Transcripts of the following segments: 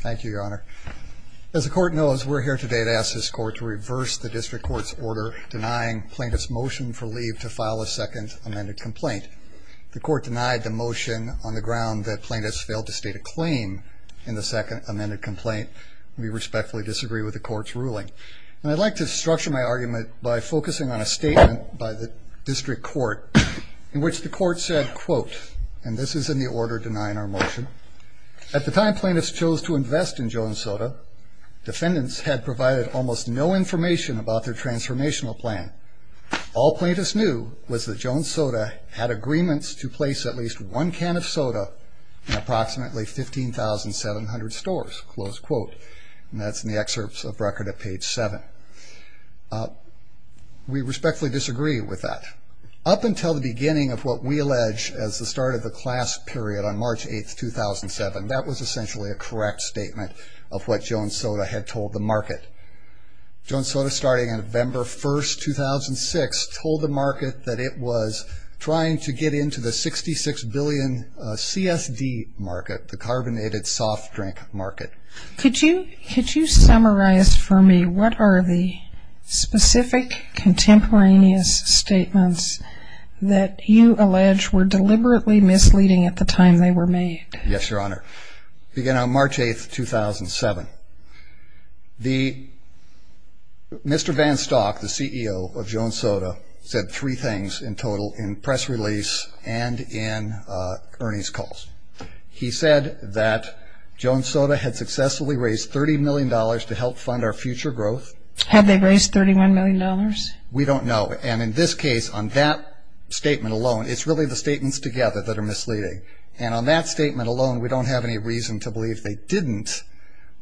thank you your honor as the court knows we're here today to ask this court to reverse the district court's order denying plaintiffs motion for leave to file a second amended complaint the court denied the motion on the ground that plaintiffs failed to state a claim in the second amended complaint we respectfully disagree with the court's ruling and I'd like to structure my argument by focusing on a statement by the district court in which the court said quote and this is in the order denying our motion at the time plaintiffs chose to invest in Jones Soda defendants had provided almost no information about their transformational plan all plaintiffs knew was that Jones Soda had agreements to place at least one can of soda in approximately 15,700 stores close quote and that's in the excerpts of record at page 7 we respectfully disagree with that up until the beginning of what we allege as the start of the class period on March 8th 2007 that was essentially a correct statement of what Jones Soda had told the market Jones Soda starting in November 1st 2006 told the market that it was trying to get into the 66 billion CSD market the carbonated soft drink market could you could you summarize for me what are the specific contemporaneous statements that you allege were deliberately misleading at the time they were made yes your honor begin on March 8th 2007 the mr. van stock the CEO of Jones Soda said three things in total in press release and in Ernie's calls he said that Jones Soda had successfully raised 30 million dollars to help fund our future growth have they raised 31 million dollars we don't know and in this case on that statement alone it's really the statements together that are misleading and on that statement alone we don't have any reason to believe they didn't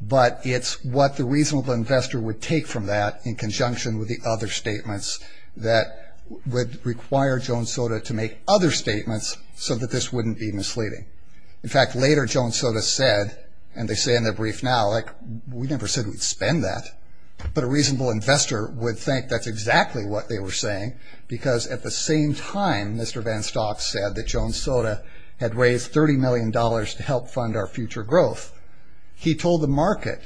but it's what the reasonable investor would take from that in conjunction with the other statements that would require Jones Soda to make other statements so that this wouldn't be misleading in fact later Jones Soda said and they say in the brief now like we never said we'd spend that but a reasonable investor would think that's exactly what they were saying because at the same time mr. van stock said that Jones Soda had raised 30 million dollars to help fund our future growth he told the market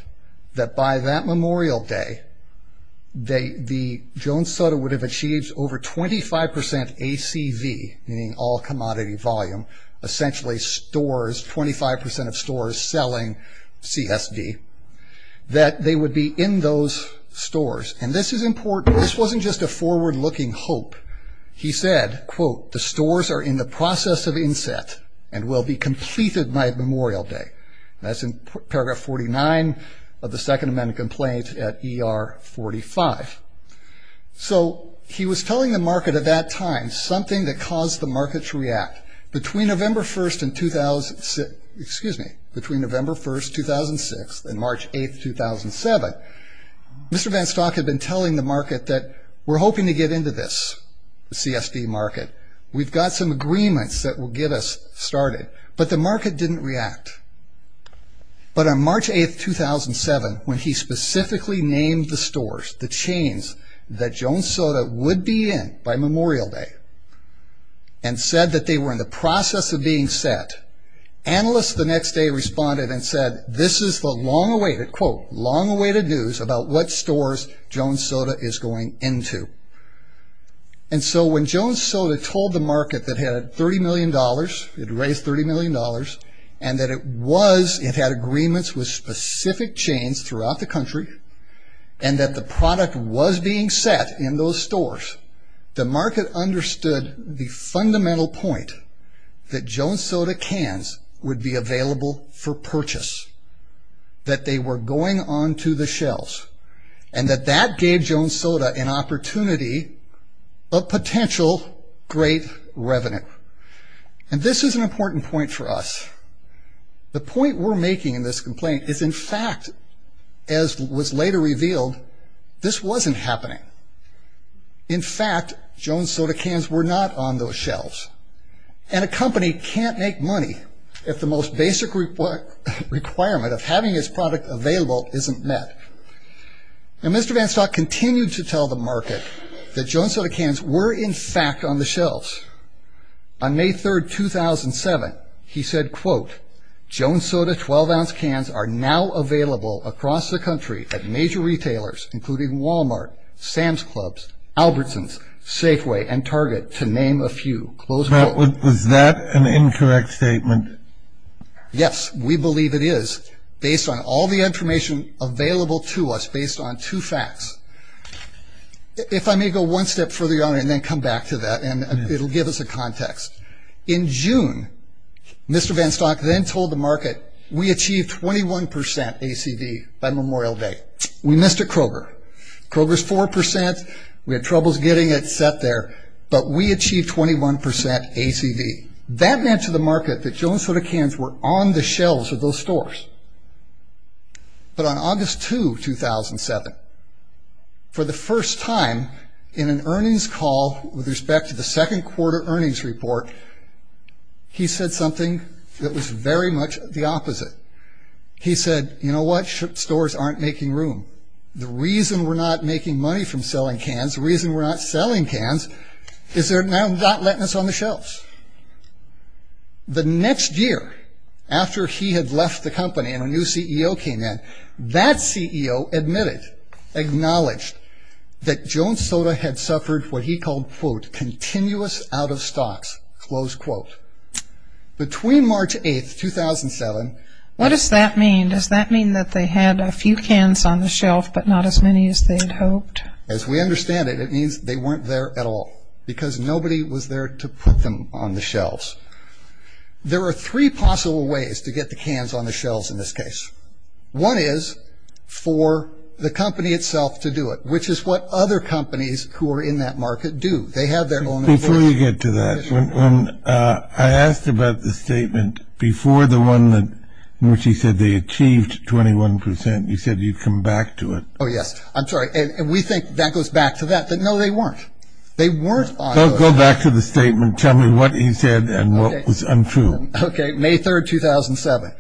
that by that Memorial Day they the Jones Soda would have achieved over 25% ACV meaning all commodity volume essentially stores 25% of stores selling CSV that they would be in those stores and this is important this wasn't just a forward-looking hope he said quote the stores are in the process of inset and will be completed by Memorial Day that's paragraph 49 of the Second Amendment complaint at er 45 so he was telling the market at that time something that caused the markets react between November 1st and 2006 excuse me between November 1st 2006 and March 8th 2007 mr. van stock had been telling the market that we're hoping to get into this the CSD market we've got some agreements that will get us started but the market didn't react but on March 8th 2007 when he specifically named the stores the chains that Jones Soda would be in by Memorial Day and said that they were in the process of being set analysts the next day responded and said this is the long-awaited quote long-awaited news about what stores Jones Soda is going into and so when Jones Soda told the market that had 30 million dollars it and that it was it had agreements with specific chains throughout the country and that the product was being set in those stores the market understood the fundamental point that Jones Soda cans would be available for purchase that they were going on to the shelves and that that gave Jones Soda an opportunity of potential great revenue and this is an important point for us the point we're making in this complaint is in fact as was later revealed this wasn't happening in fact Jones Soda cans were not on those shelves and a company can't make money if the most basic requirement of having his product available isn't met now Mr. Vanstock continued to tell the market that Jones Soda cans were in fact on the shelves on May 3rd 2007 he said quote Jones Soda 12-ounce cans are now available across the country at major retailers including Walmart Sam's Clubs Albertsons Safeway and Target to name a few close that was that an incorrect statement yes we believe it is based on all the information available to us based on two facts if I may go one step for the honor and then come back to that and it'll give us a context in June Mr. Vanstock then told the market we achieved 21% ACV by Memorial Day we missed a Kroger Kroger's 4% we had troubles getting it set there but we achieved 21% ACV that meant to the market that Jones Soda cans were on the but on August 2 2007 for the first time in an earnings call with respect to the second quarter earnings report he said something that was very much the opposite he said you know what ship stores aren't making room the reason we're not making money from selling cans reason we're not selling cans is there now not letting us on the shelves the next year after he had left the company and a new CEO came in that CEO admitted acknowledged that Jones Soda had suffered what he called quote continuous out-of-stocks close quote between March 8 2007 what does that mean does that mean that they had a few cans on the shelf but not as many as they had hoped as we understand it it means they weren't there at all because nobody was there to put them on the shelves there are three possible ways to get the cans on the shelves in this case one is for the company itself to do it which is what other companies who are in that market do they have their own before you get to that when I asked about the statement before the one that which he said they achieved 21% you said you'd come back to it oh yes I'm sorry and we think that goes back to that but no they weren't they weren't I'll go back to the statement tell me what he said and what was untrue okay May 3rd 2007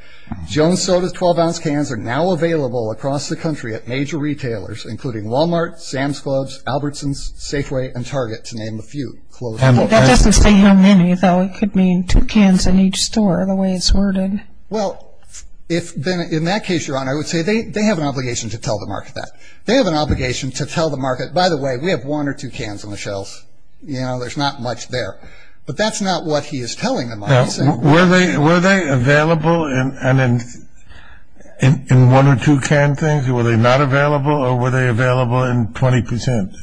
Jones Soda's 12-ounce cans are now available across the country at major retailers including Walmart Sam's Clubs Albertson's Safeway and Target to name a few though it could mean two cans in each store the way it's worded well if then in that case your honor I would say they have an obligation to tell the market that they have an obligation to tell the market by the way we have one or two cans on the shelves you know there's not much there but that's not what he is were they were they available in and in in one or two can things were they not available or were they available in 20%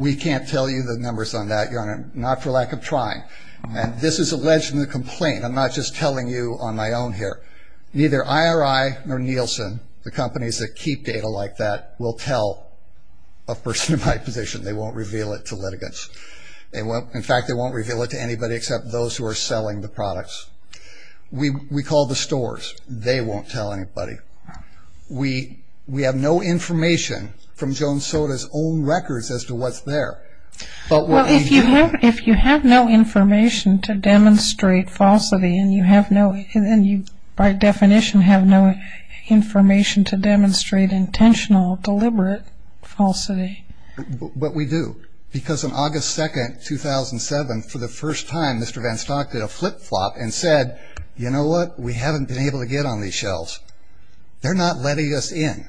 we can't tell you the numbers on that you're on it not for lack of trying and this is alleged in the complaint I'm not just telling you on my own here neither IRI or Nielsen the companies that keep data like that will tell a person in my position they won't reveal it to litigants they won't in fact they won't reveal it to anybody except those who are selling the products we we call the stores they won't tell anybody we we have no information from Jones soda's own records as to what's there but what if you have if you have no information to demonstrate falsity and you have no and then you by definition have no information to demonstrate intentional deliberate falsity but we do because on August 2nd 2007 for the first time mr. van stock did a flip-flop and said you know what we haven't been able to get on these shelves they're not letting us in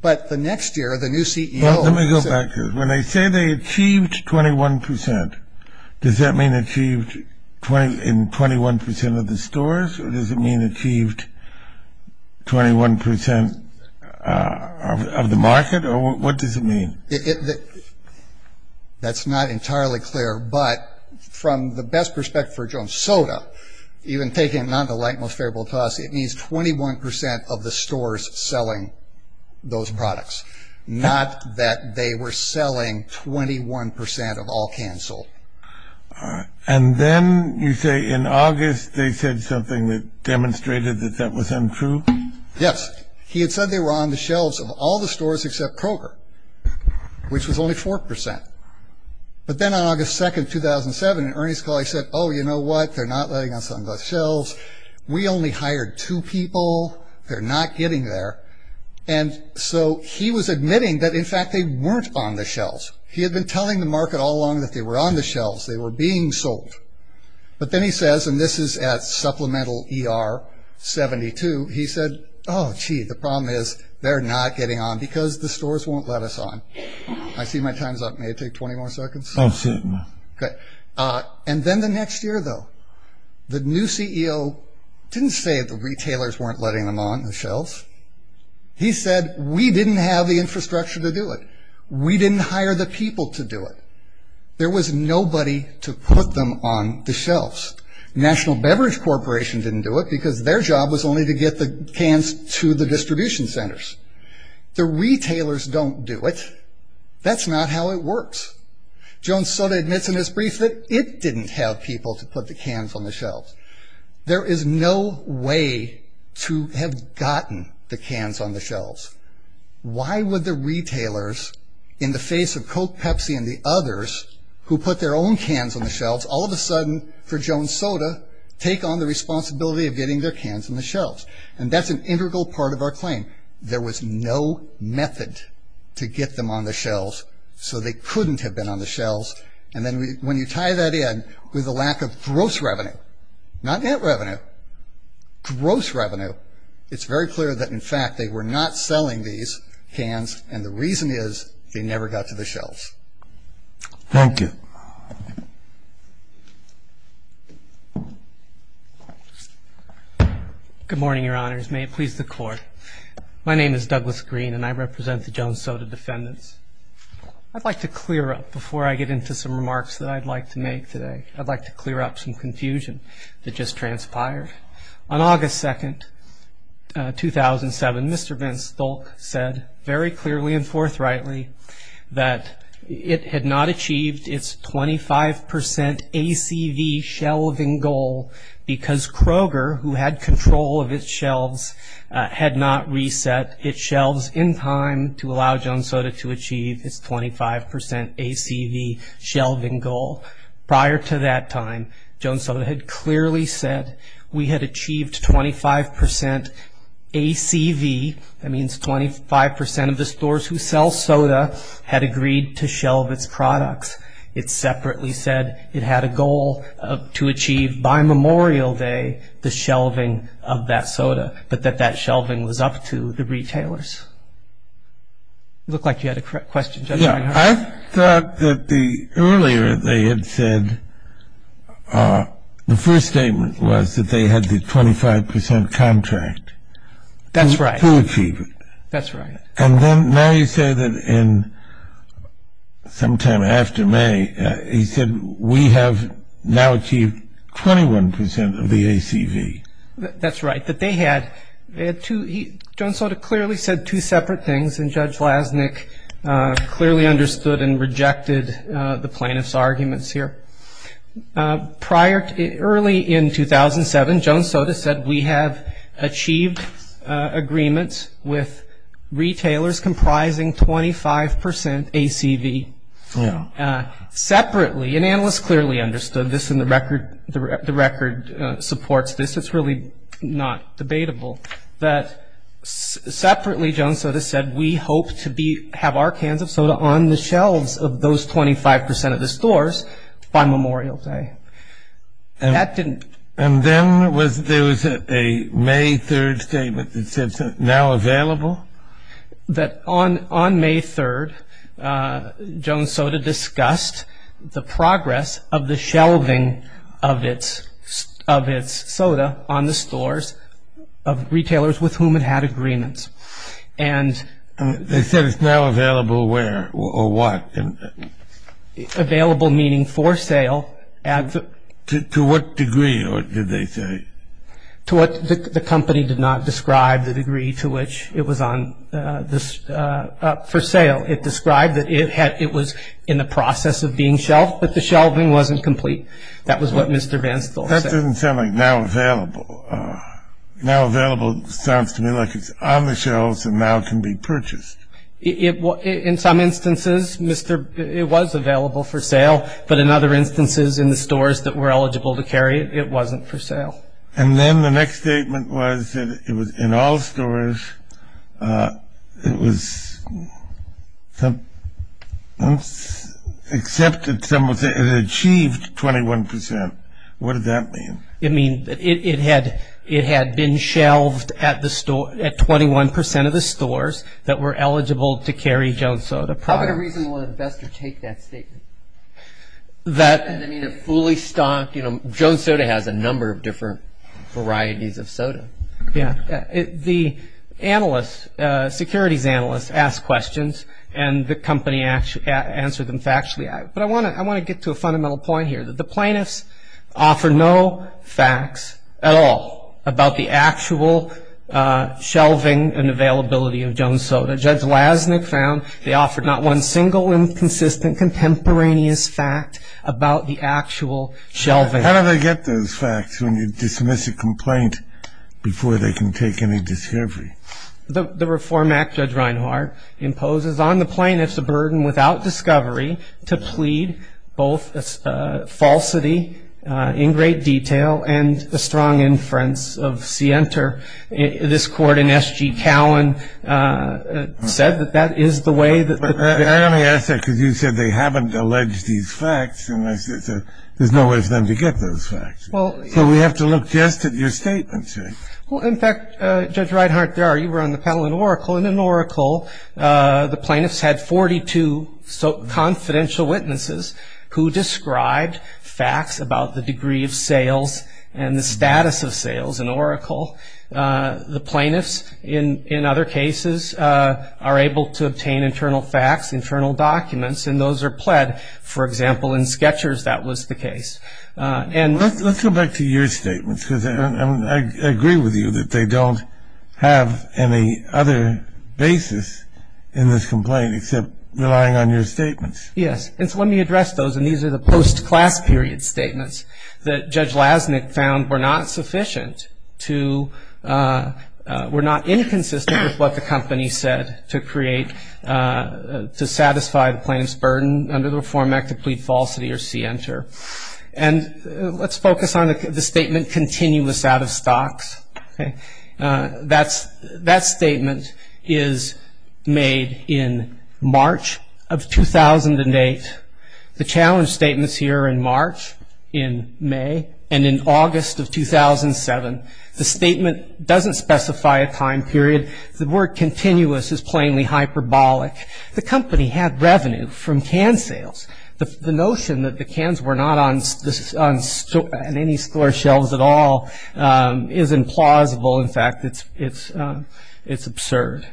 but the next year the new CEO let me go back to when they say they achieved 21% does that mean achieved 20 in 21% of the stores or does it mean achieved 21% of the market or what does it mean it that that's not entirely clear but from the best perspective for Jones soda even taking a non-delight most favorable to us it means 21% of the stores selling those products not that they were selling 21% of all canceled and then you say in August they said something that demonstrated that that was untrue yes he had said they were on the shelves of all the stores except Kroger which was only 4% but then on August 2nd 2007 earnings call I said oh you know what they're not letting us on those shelves we only hired two people they're not getting there and so he was admitting that in fact they weren't on the shelves he had been telling the market all along that they were on the shelves they were being sold but then he says and this is at supplemental er 72 he said oh gee the problem is they're not getting on because the stores won't let us on I see my time's up may take 20 more seconds oh shit okay and then the next year though the new CEO didn't say the retailers weren't letting them on the shelves he said we didn't have the infrastructure to do it we didn't hire the people to do it there was nobody to put them on the shelves National Beverage Corporation didn't do it because their job was only to get the cans to the distribution centers the retailers don't do it that's not how it works Jones Soda admits in his brief that it didn't have people to put the cans on the shelves there is no way to have gotten the cans on the shelves why would the retailers in the face of coke pepsi and the others who put their own cans on the shelves all of a sudden for Jones Soda take on the responsibility of shelves and that's an integral part of our claim there was no method to get them on the shelves so they couldn't have been on the shelves and then we when you tie that in with a lack of gross revenue not net revenue gross revenue it's very clear that in fact they were not selling these hands and the reason is they never got to the shelves thank you good morning your honors may it please the court my name is Douglas Green and I represent the Jones Soda defendants I'd like to clear up before I get into some remarks that I'd like to make today I'd like to clear up some confusion that just transpired on August 2nd 2007 Mr. Vince Stolk said very clearly and forthrightly that it had not achieved its 25% ACV shelving goal because Kroger who had control of its shelves had not reset its shelves in time to allow Jones Soda to achieve its 25% ACV shelving goal prior to that time Jones Soda had clearly said we had achieved 25% ACV that means 25% of the stores who sell soda had agreed to shelve its products it separately said it had a goal to achieve by Memorial Day the shelving of that soda but that that shelving was up to the retailers look like you had a question I thought that the earlier they had said the first statement was that they had a 25% contract that's right to achieve it that's right and then now you say that in sometime after May he said we have now achieved 21% of the ACV that's right that they had to Jones Soda clearly said two separate things and Judge Lasnik clearly understood and rejected the plaintiffs arguments here prior to early in 2007 Jones Soda said we have achieved agreements with retailers comprising 25% ACV separately and analysts clearly understood this in the record the record supports this it's really not debatable that separately Jones Soda said we hope to be have our cans of soda on the shelves of those 25% of the stores by Memorial Day and that didn't and then was there was a May 3rd statement that said now available that on on May 3rd Jones Soda discussed the progress of the shelving of its of its soda on the stores of retailers with whom it had agreements and they said it's now available meaning for sale and to what degree or did they say to what the company did not describe the degree to which it was on this for sale it described that it had it was in the process of being shelved but the shelving wasn't complete that was what Mr. Vance doesn't sound like now available now available sounds to me like it's on the shelves and now can be purchased it was in some instances mr. it was available for sale but in other instances in the stores that were eligible to carry it wasn't for sale and then the next statement was that it was in all stores it was accepted some of the achieved 21% what does that mean it mean it had it had been shelved at the stores that were eligible to carry Jones Soda products. How could a reasonable investor take that statement? That fully stocked you know Jones Soda has a number of different varieties of soda yeah the analysts securities analysts asked questions and the company actually answered them factually but I want to I want to get to a fundamental point here that the plaintiffs offer no facts at all about the actual shelving and availability of Jones Soda. Judge Lasnik found they offered not one single inconsistent contemporaneous fact about the actual shelving. How do they get those facts when you dismiss a complaint before they can take any discovery? The Reform Act Judge Reinhart imposes on the plaintiffs a burden without discovery to plead both a falsity in great detail and a strong inference of scienter this court in S. G. Cowan said that that is the way that they haven't alleged these facts and there's no way for them to get those facts. So we have to look just at your statement. In fact Judge Reinhart you were on the panel in Oracle and in Oracle the plaintiffs had 42 confidential witnesses who described facts about the degree of sales and the plaintiffs in other cases are able to obtain internal facts internal documents and those are pled for example in Skechers that was the case and let's go back to your statements because I agree with you that they don't have any other basis in this complaint except relying on your statements. Yes it's let me address those and these are the post class period statements that Judge Blaznik found were not sufficient to were not inconsistent with what the company said to create to satisfy the plaintiffs burden under the Reform Act to plead falsity or scienter and let's focus on the statement continuous out of stocks. That statement is made in August of 2007. The statement doesn't specify a time period. The word continuous is plainly hyperbolic. The company had revenue from can sales. The notion that the cans were not on any store shelves at all is implausible in fact it's it's it's absurd.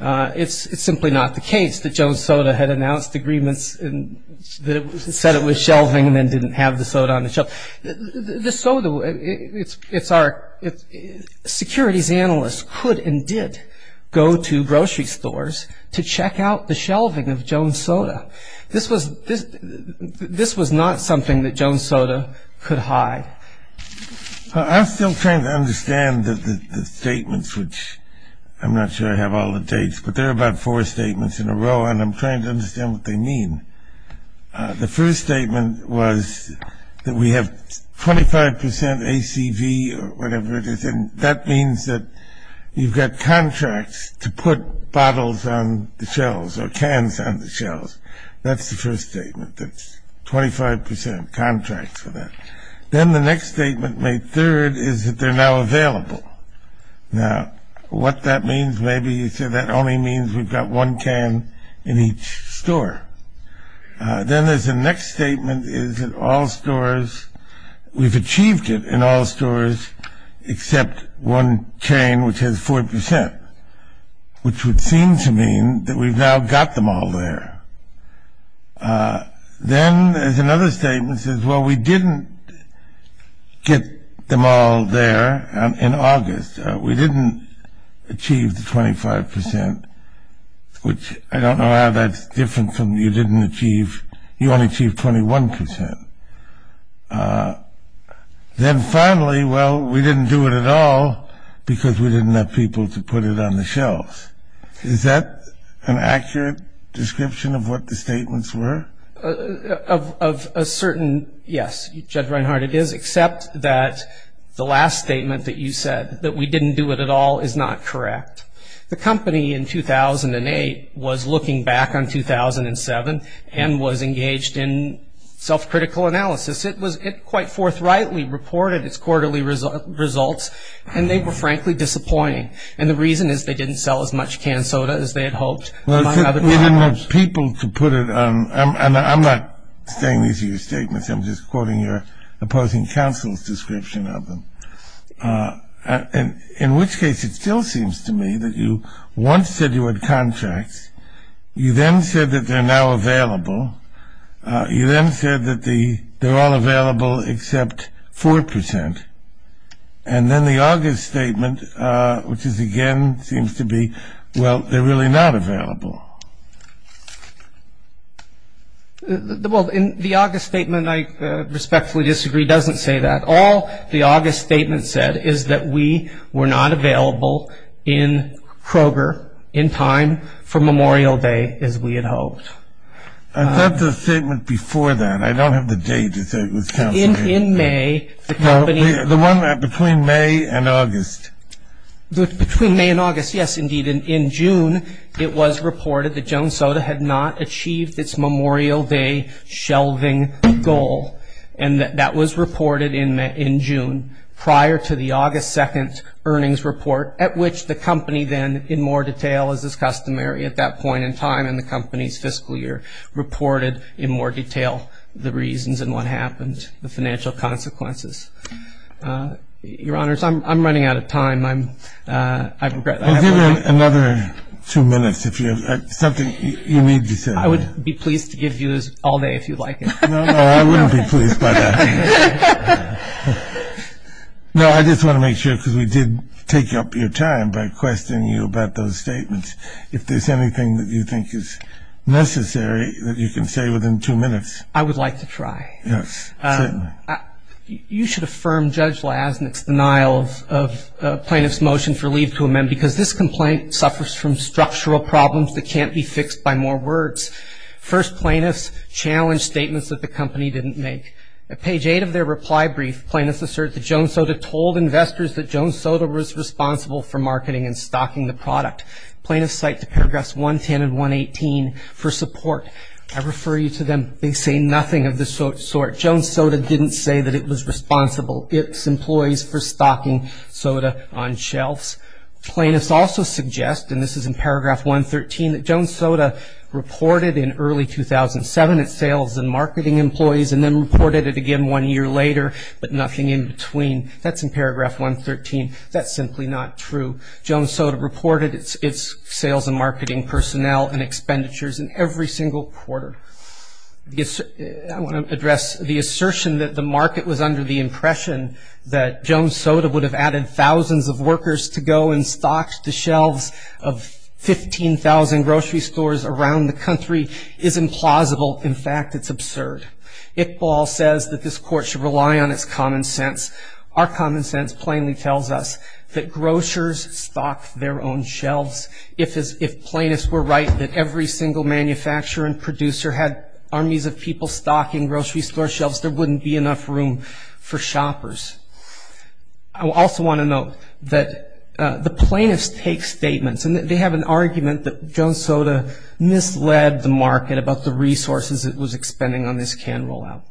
It's simply not the case that Jones Soda had announced agreements that said it was shelving and then didn't have the shelf. The soda it's it's our it's Securities Analysts could and did go to grocery stores to check out the shelving of Jones Soda. This was this this was not something that Jones Soda could hide. I'm still trying to understand the statements which I'm not sure I have all the dates but they're about four statements in a row and I'm trying to understand what they mean. The first statement was that we have 25% ACV or whatever it is and that means that you've got contracts to put bottles on the shelves or cans on the shelves. That's the first statement that's 25% contracts for that. Then the next statement made third is that they're now available. Now what that means maybe you said that only means we've got one can in each store. Then there's a next statement is that all stores we've achieved it in all stores except one chain which has 4% which would seem to mean that we've now got them all there. Then there's another statement says well we didn't get them all there in August. We didn't achieve the 25% which I don't know how that's different from you didn't achieve you only achieved 21%. Then finally well we didn't do it at all because we didn't have people to put it on the shelves. Is that an accurate description of what the statements were? Of a certain yes Judge Reinhart it is except that the last statement that you said that we didn't do it at all is not correct. The company in 2008 was looking back on 2007 and was engaged in self-critical analysis. It was it quite forthrightly reported its quarterly results and they were frankly disappointing and the reason is they didn't sell as much canned soda as they had hoped. Well they didn't have people to put it on and I'm not saying these are your statements I'm just quoting your opposing counsel's description of them. In which case it still seems to me that you once said you had contracts you then said that they're now available. You then said that the they're all available except 4% and then the August statement which is again seems to be well they're really not available. The August statement I respectfully disagree doesn't say that all the August statement said is that we were not available in Kroger in time for Memorial Day as we had hoped. I said the statement before that I don't have the date. In May the company. The one between May and August. Between May and August yes indeed in June it was reported that Jones Soda had not achieved its Memorial Day shelving goal and that was reported in June prior to the August 2nd earnings report at which the company then in more detail as is customary at that point in time in the company's fiscal year reported in more detail the reasons and what happened the financial consequences. Your honors I'm running out of time I'm I've got another two minutes if you have something you need to say. I would be pleased to give you all day if you'd like to know I wouldn't be pleased by that. No I just want to make sure because we did take up your time by questioning you about those statements. If there's anything that you think is necessary that you can say within two minutes. I would like to try. Yes. You should affirm Judge Lasnik's denial of plaintiff's motion for leave to amend because this complaint suffers from structural problems that can't be fixed by more words. First plaintiffs challenge statements that the company didn't make. At page 8 of their reply brief plaintiffs assert that Jones Soda told investors that Jones Soda was responsible for marketing and stocking the product. Plaintiffs cite to paragraphs 110 and 118 for support. I refer you to them. They say nothing of the sort. Jones Soda didn't say that it was responsible its employees for stocking soda on shelves. Plaintiffs also suggest and this is in paragraph 113 that Jones Soda reported in early 2007 its sales and marketing employees and then reported it again one year later but nothing in between. That's in paragraph 113. That's simply not true. Jones Soda reported its sales and marketing personnel and expenditures in every single quarter. I want to address the assertion that the market was under the impression that Jones Soda would have added thousands of workers to go and stock the shelves of 15,000 grocery stores around the country is implausible. In fact, it's absurd. Iqbal says that this court should rely on its common sense. Our common sense plainly tells us that grocers stock their own shelves. If plaintiffs were right that every single manufacturer and producer had armies of people stocking grocery store shelves, there wouldn't be enough room for shoppers. I also want to note that the plaintiffs take statements and that they have an argument that Jones Soda misled the market about the resources it was expending on this can rollout.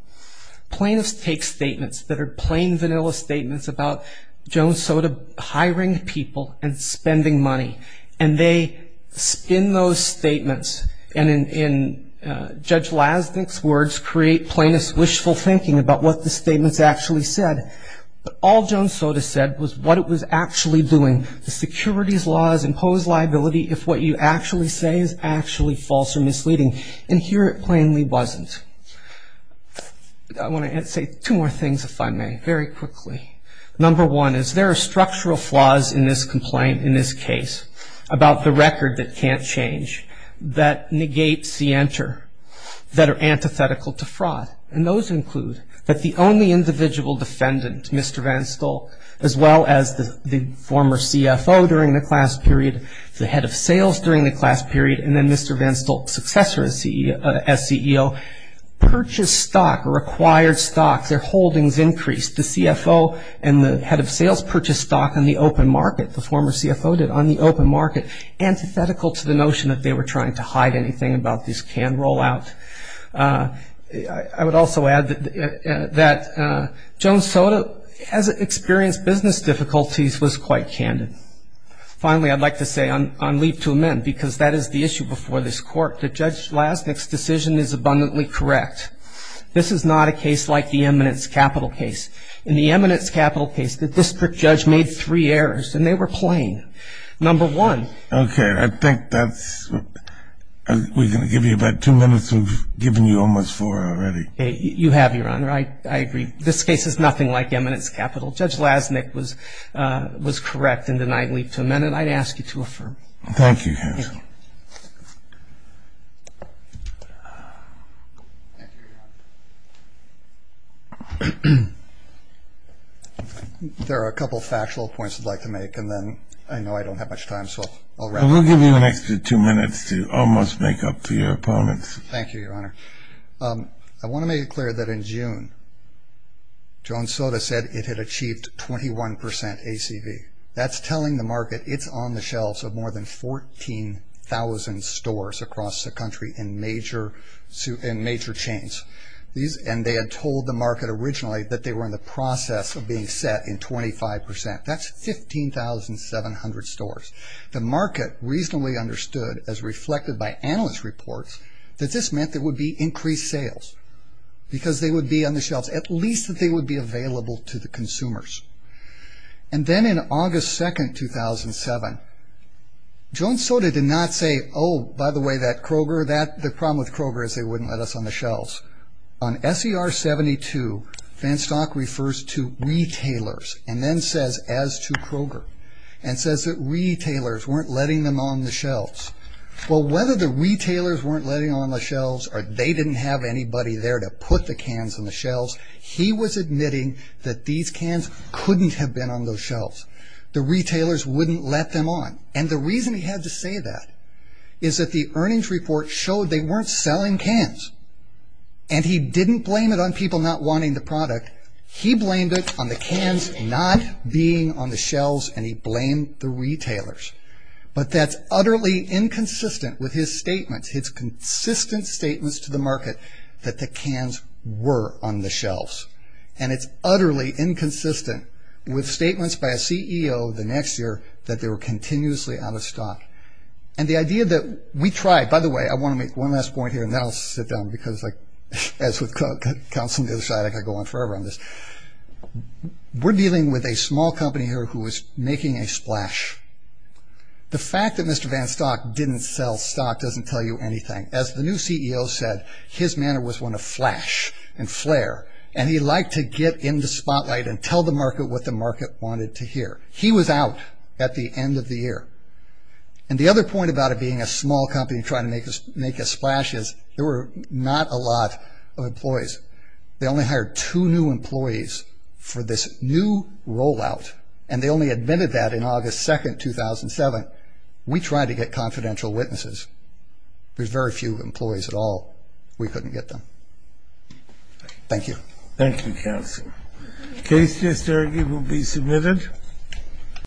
Plaintiffs take statements that are plain vanilla statements about Jones Soda hiring people and spending money. And they spin those statements and in Judge Lasnik's words, create plaintiffs' wishful thinking about what the statements actually said. But all Jones Soda said was what it was actually doing. The securities laws impose liability if what you actually say is actually false or misleading. And here it plainly wasn't. I want to say two more things if I may, very quickly. Number one is there are structural flaws in this complaint, in this case, about the record that can't change that negates the enter that are antithetical to fraud. And those include that the only individual defendant, Mr. Van Stolt, as well as the former CFO during the class period, the head of sales during the class period, and then Mr. Van Stolt's successor as CEO, purchased stock or acquired stock. Their holdings increased. The CFO and the head of sales purchased stock on the open market, the former CFO did, on the open market. Antithetical to the notion that they were trying to hide anything about this can rollout. I would also add that Jones Soda has experienced business difficulties, was quite candid. Finally, I'd like to say on leave to amend, because that is the issue before this court, that Judge Lasnik's decision is abundantly correct. This is not a case like the eminence capital case. In the eminence capital case, the district judge made three errors, and they were plain. Number one. Okay, I think that's, we're going to give you about two minutes, we've given you almost four already. You have, Your Honor, I agree. This case is nothing like eminence capital. Judge Lasnik was correct in denying leave to amend, and I'd ask you to affirm. Thank you, counsel. Thank you. There are a couple factual points I'd like to make, and then I know I don't have much time, so I'll wrap it up. We'll give you an extra two minutes to almost make up to your opponents. Thank you, Your Honor. I want to make it clear that in June, John Sota said it had achieved 21% ACV. That's telling the market it's on the shelves of more than 14,000 stores across the country in major chains. These, and they had told the market originally that they were in the process of being set in 25%. That's 15,700 stores. The market reasonably understood, as reflected by analyst reports, that this meant there would be increased sales, because they would be on the shelves. At least that they would be available to the consumers. And then in August 2nd, 2007, John Sota did not say, oh, by the way, that Kroger, that the problem with Kroger is they wouldn't let us on the shelves. On SER 72, Van Stock refers to retailers, and then says as to Kroger. And says that retailers weren't letting them on the shelves. Well, whether the retailers weren't letting on the shelves, or they didn't have anybody there to put the cans on the shelves, he was admitting that these cans couldn't have been on those shelves. The retailers wouldn't let them on. And the reason he had to say that is that the earnings report showed they weren't selling cans. And he didn't blame it on people not wanting the product. He blamed it on the cans not being on the shelves, and he blamed the retailers. But that's utterly inconsistent with his statements, his consistent statements to the market that the cans were on the shelves. And it's utterly inconsistent with statements by a CEO the next year that they were continuously out of stock. And the idea that we tried, by the way, I want to make one last point here, and then I'll sit down, because as with counseling the other side, I could go on forever on this. We're dealing with a small company here who is making a splash. The fact that Mr. Van Stock didn't sell stock doesn't tell you anything. As the new CEO said, his manner was one of flash and flare. And he liked to get in the spotlight and tell the market what the market wanted to hear. He was out at the end of the year. And the other point about it being a small company trying to make a splash is, there were not a lot of employees. They only hired two new employees for this new rollout, and they only admitted that in August 2nd, 2007. We tried to get confidential witnesses. There's very few employees at all. We couldn't get them. Thank you. Thank you, counsel. Case just argued will be submitted.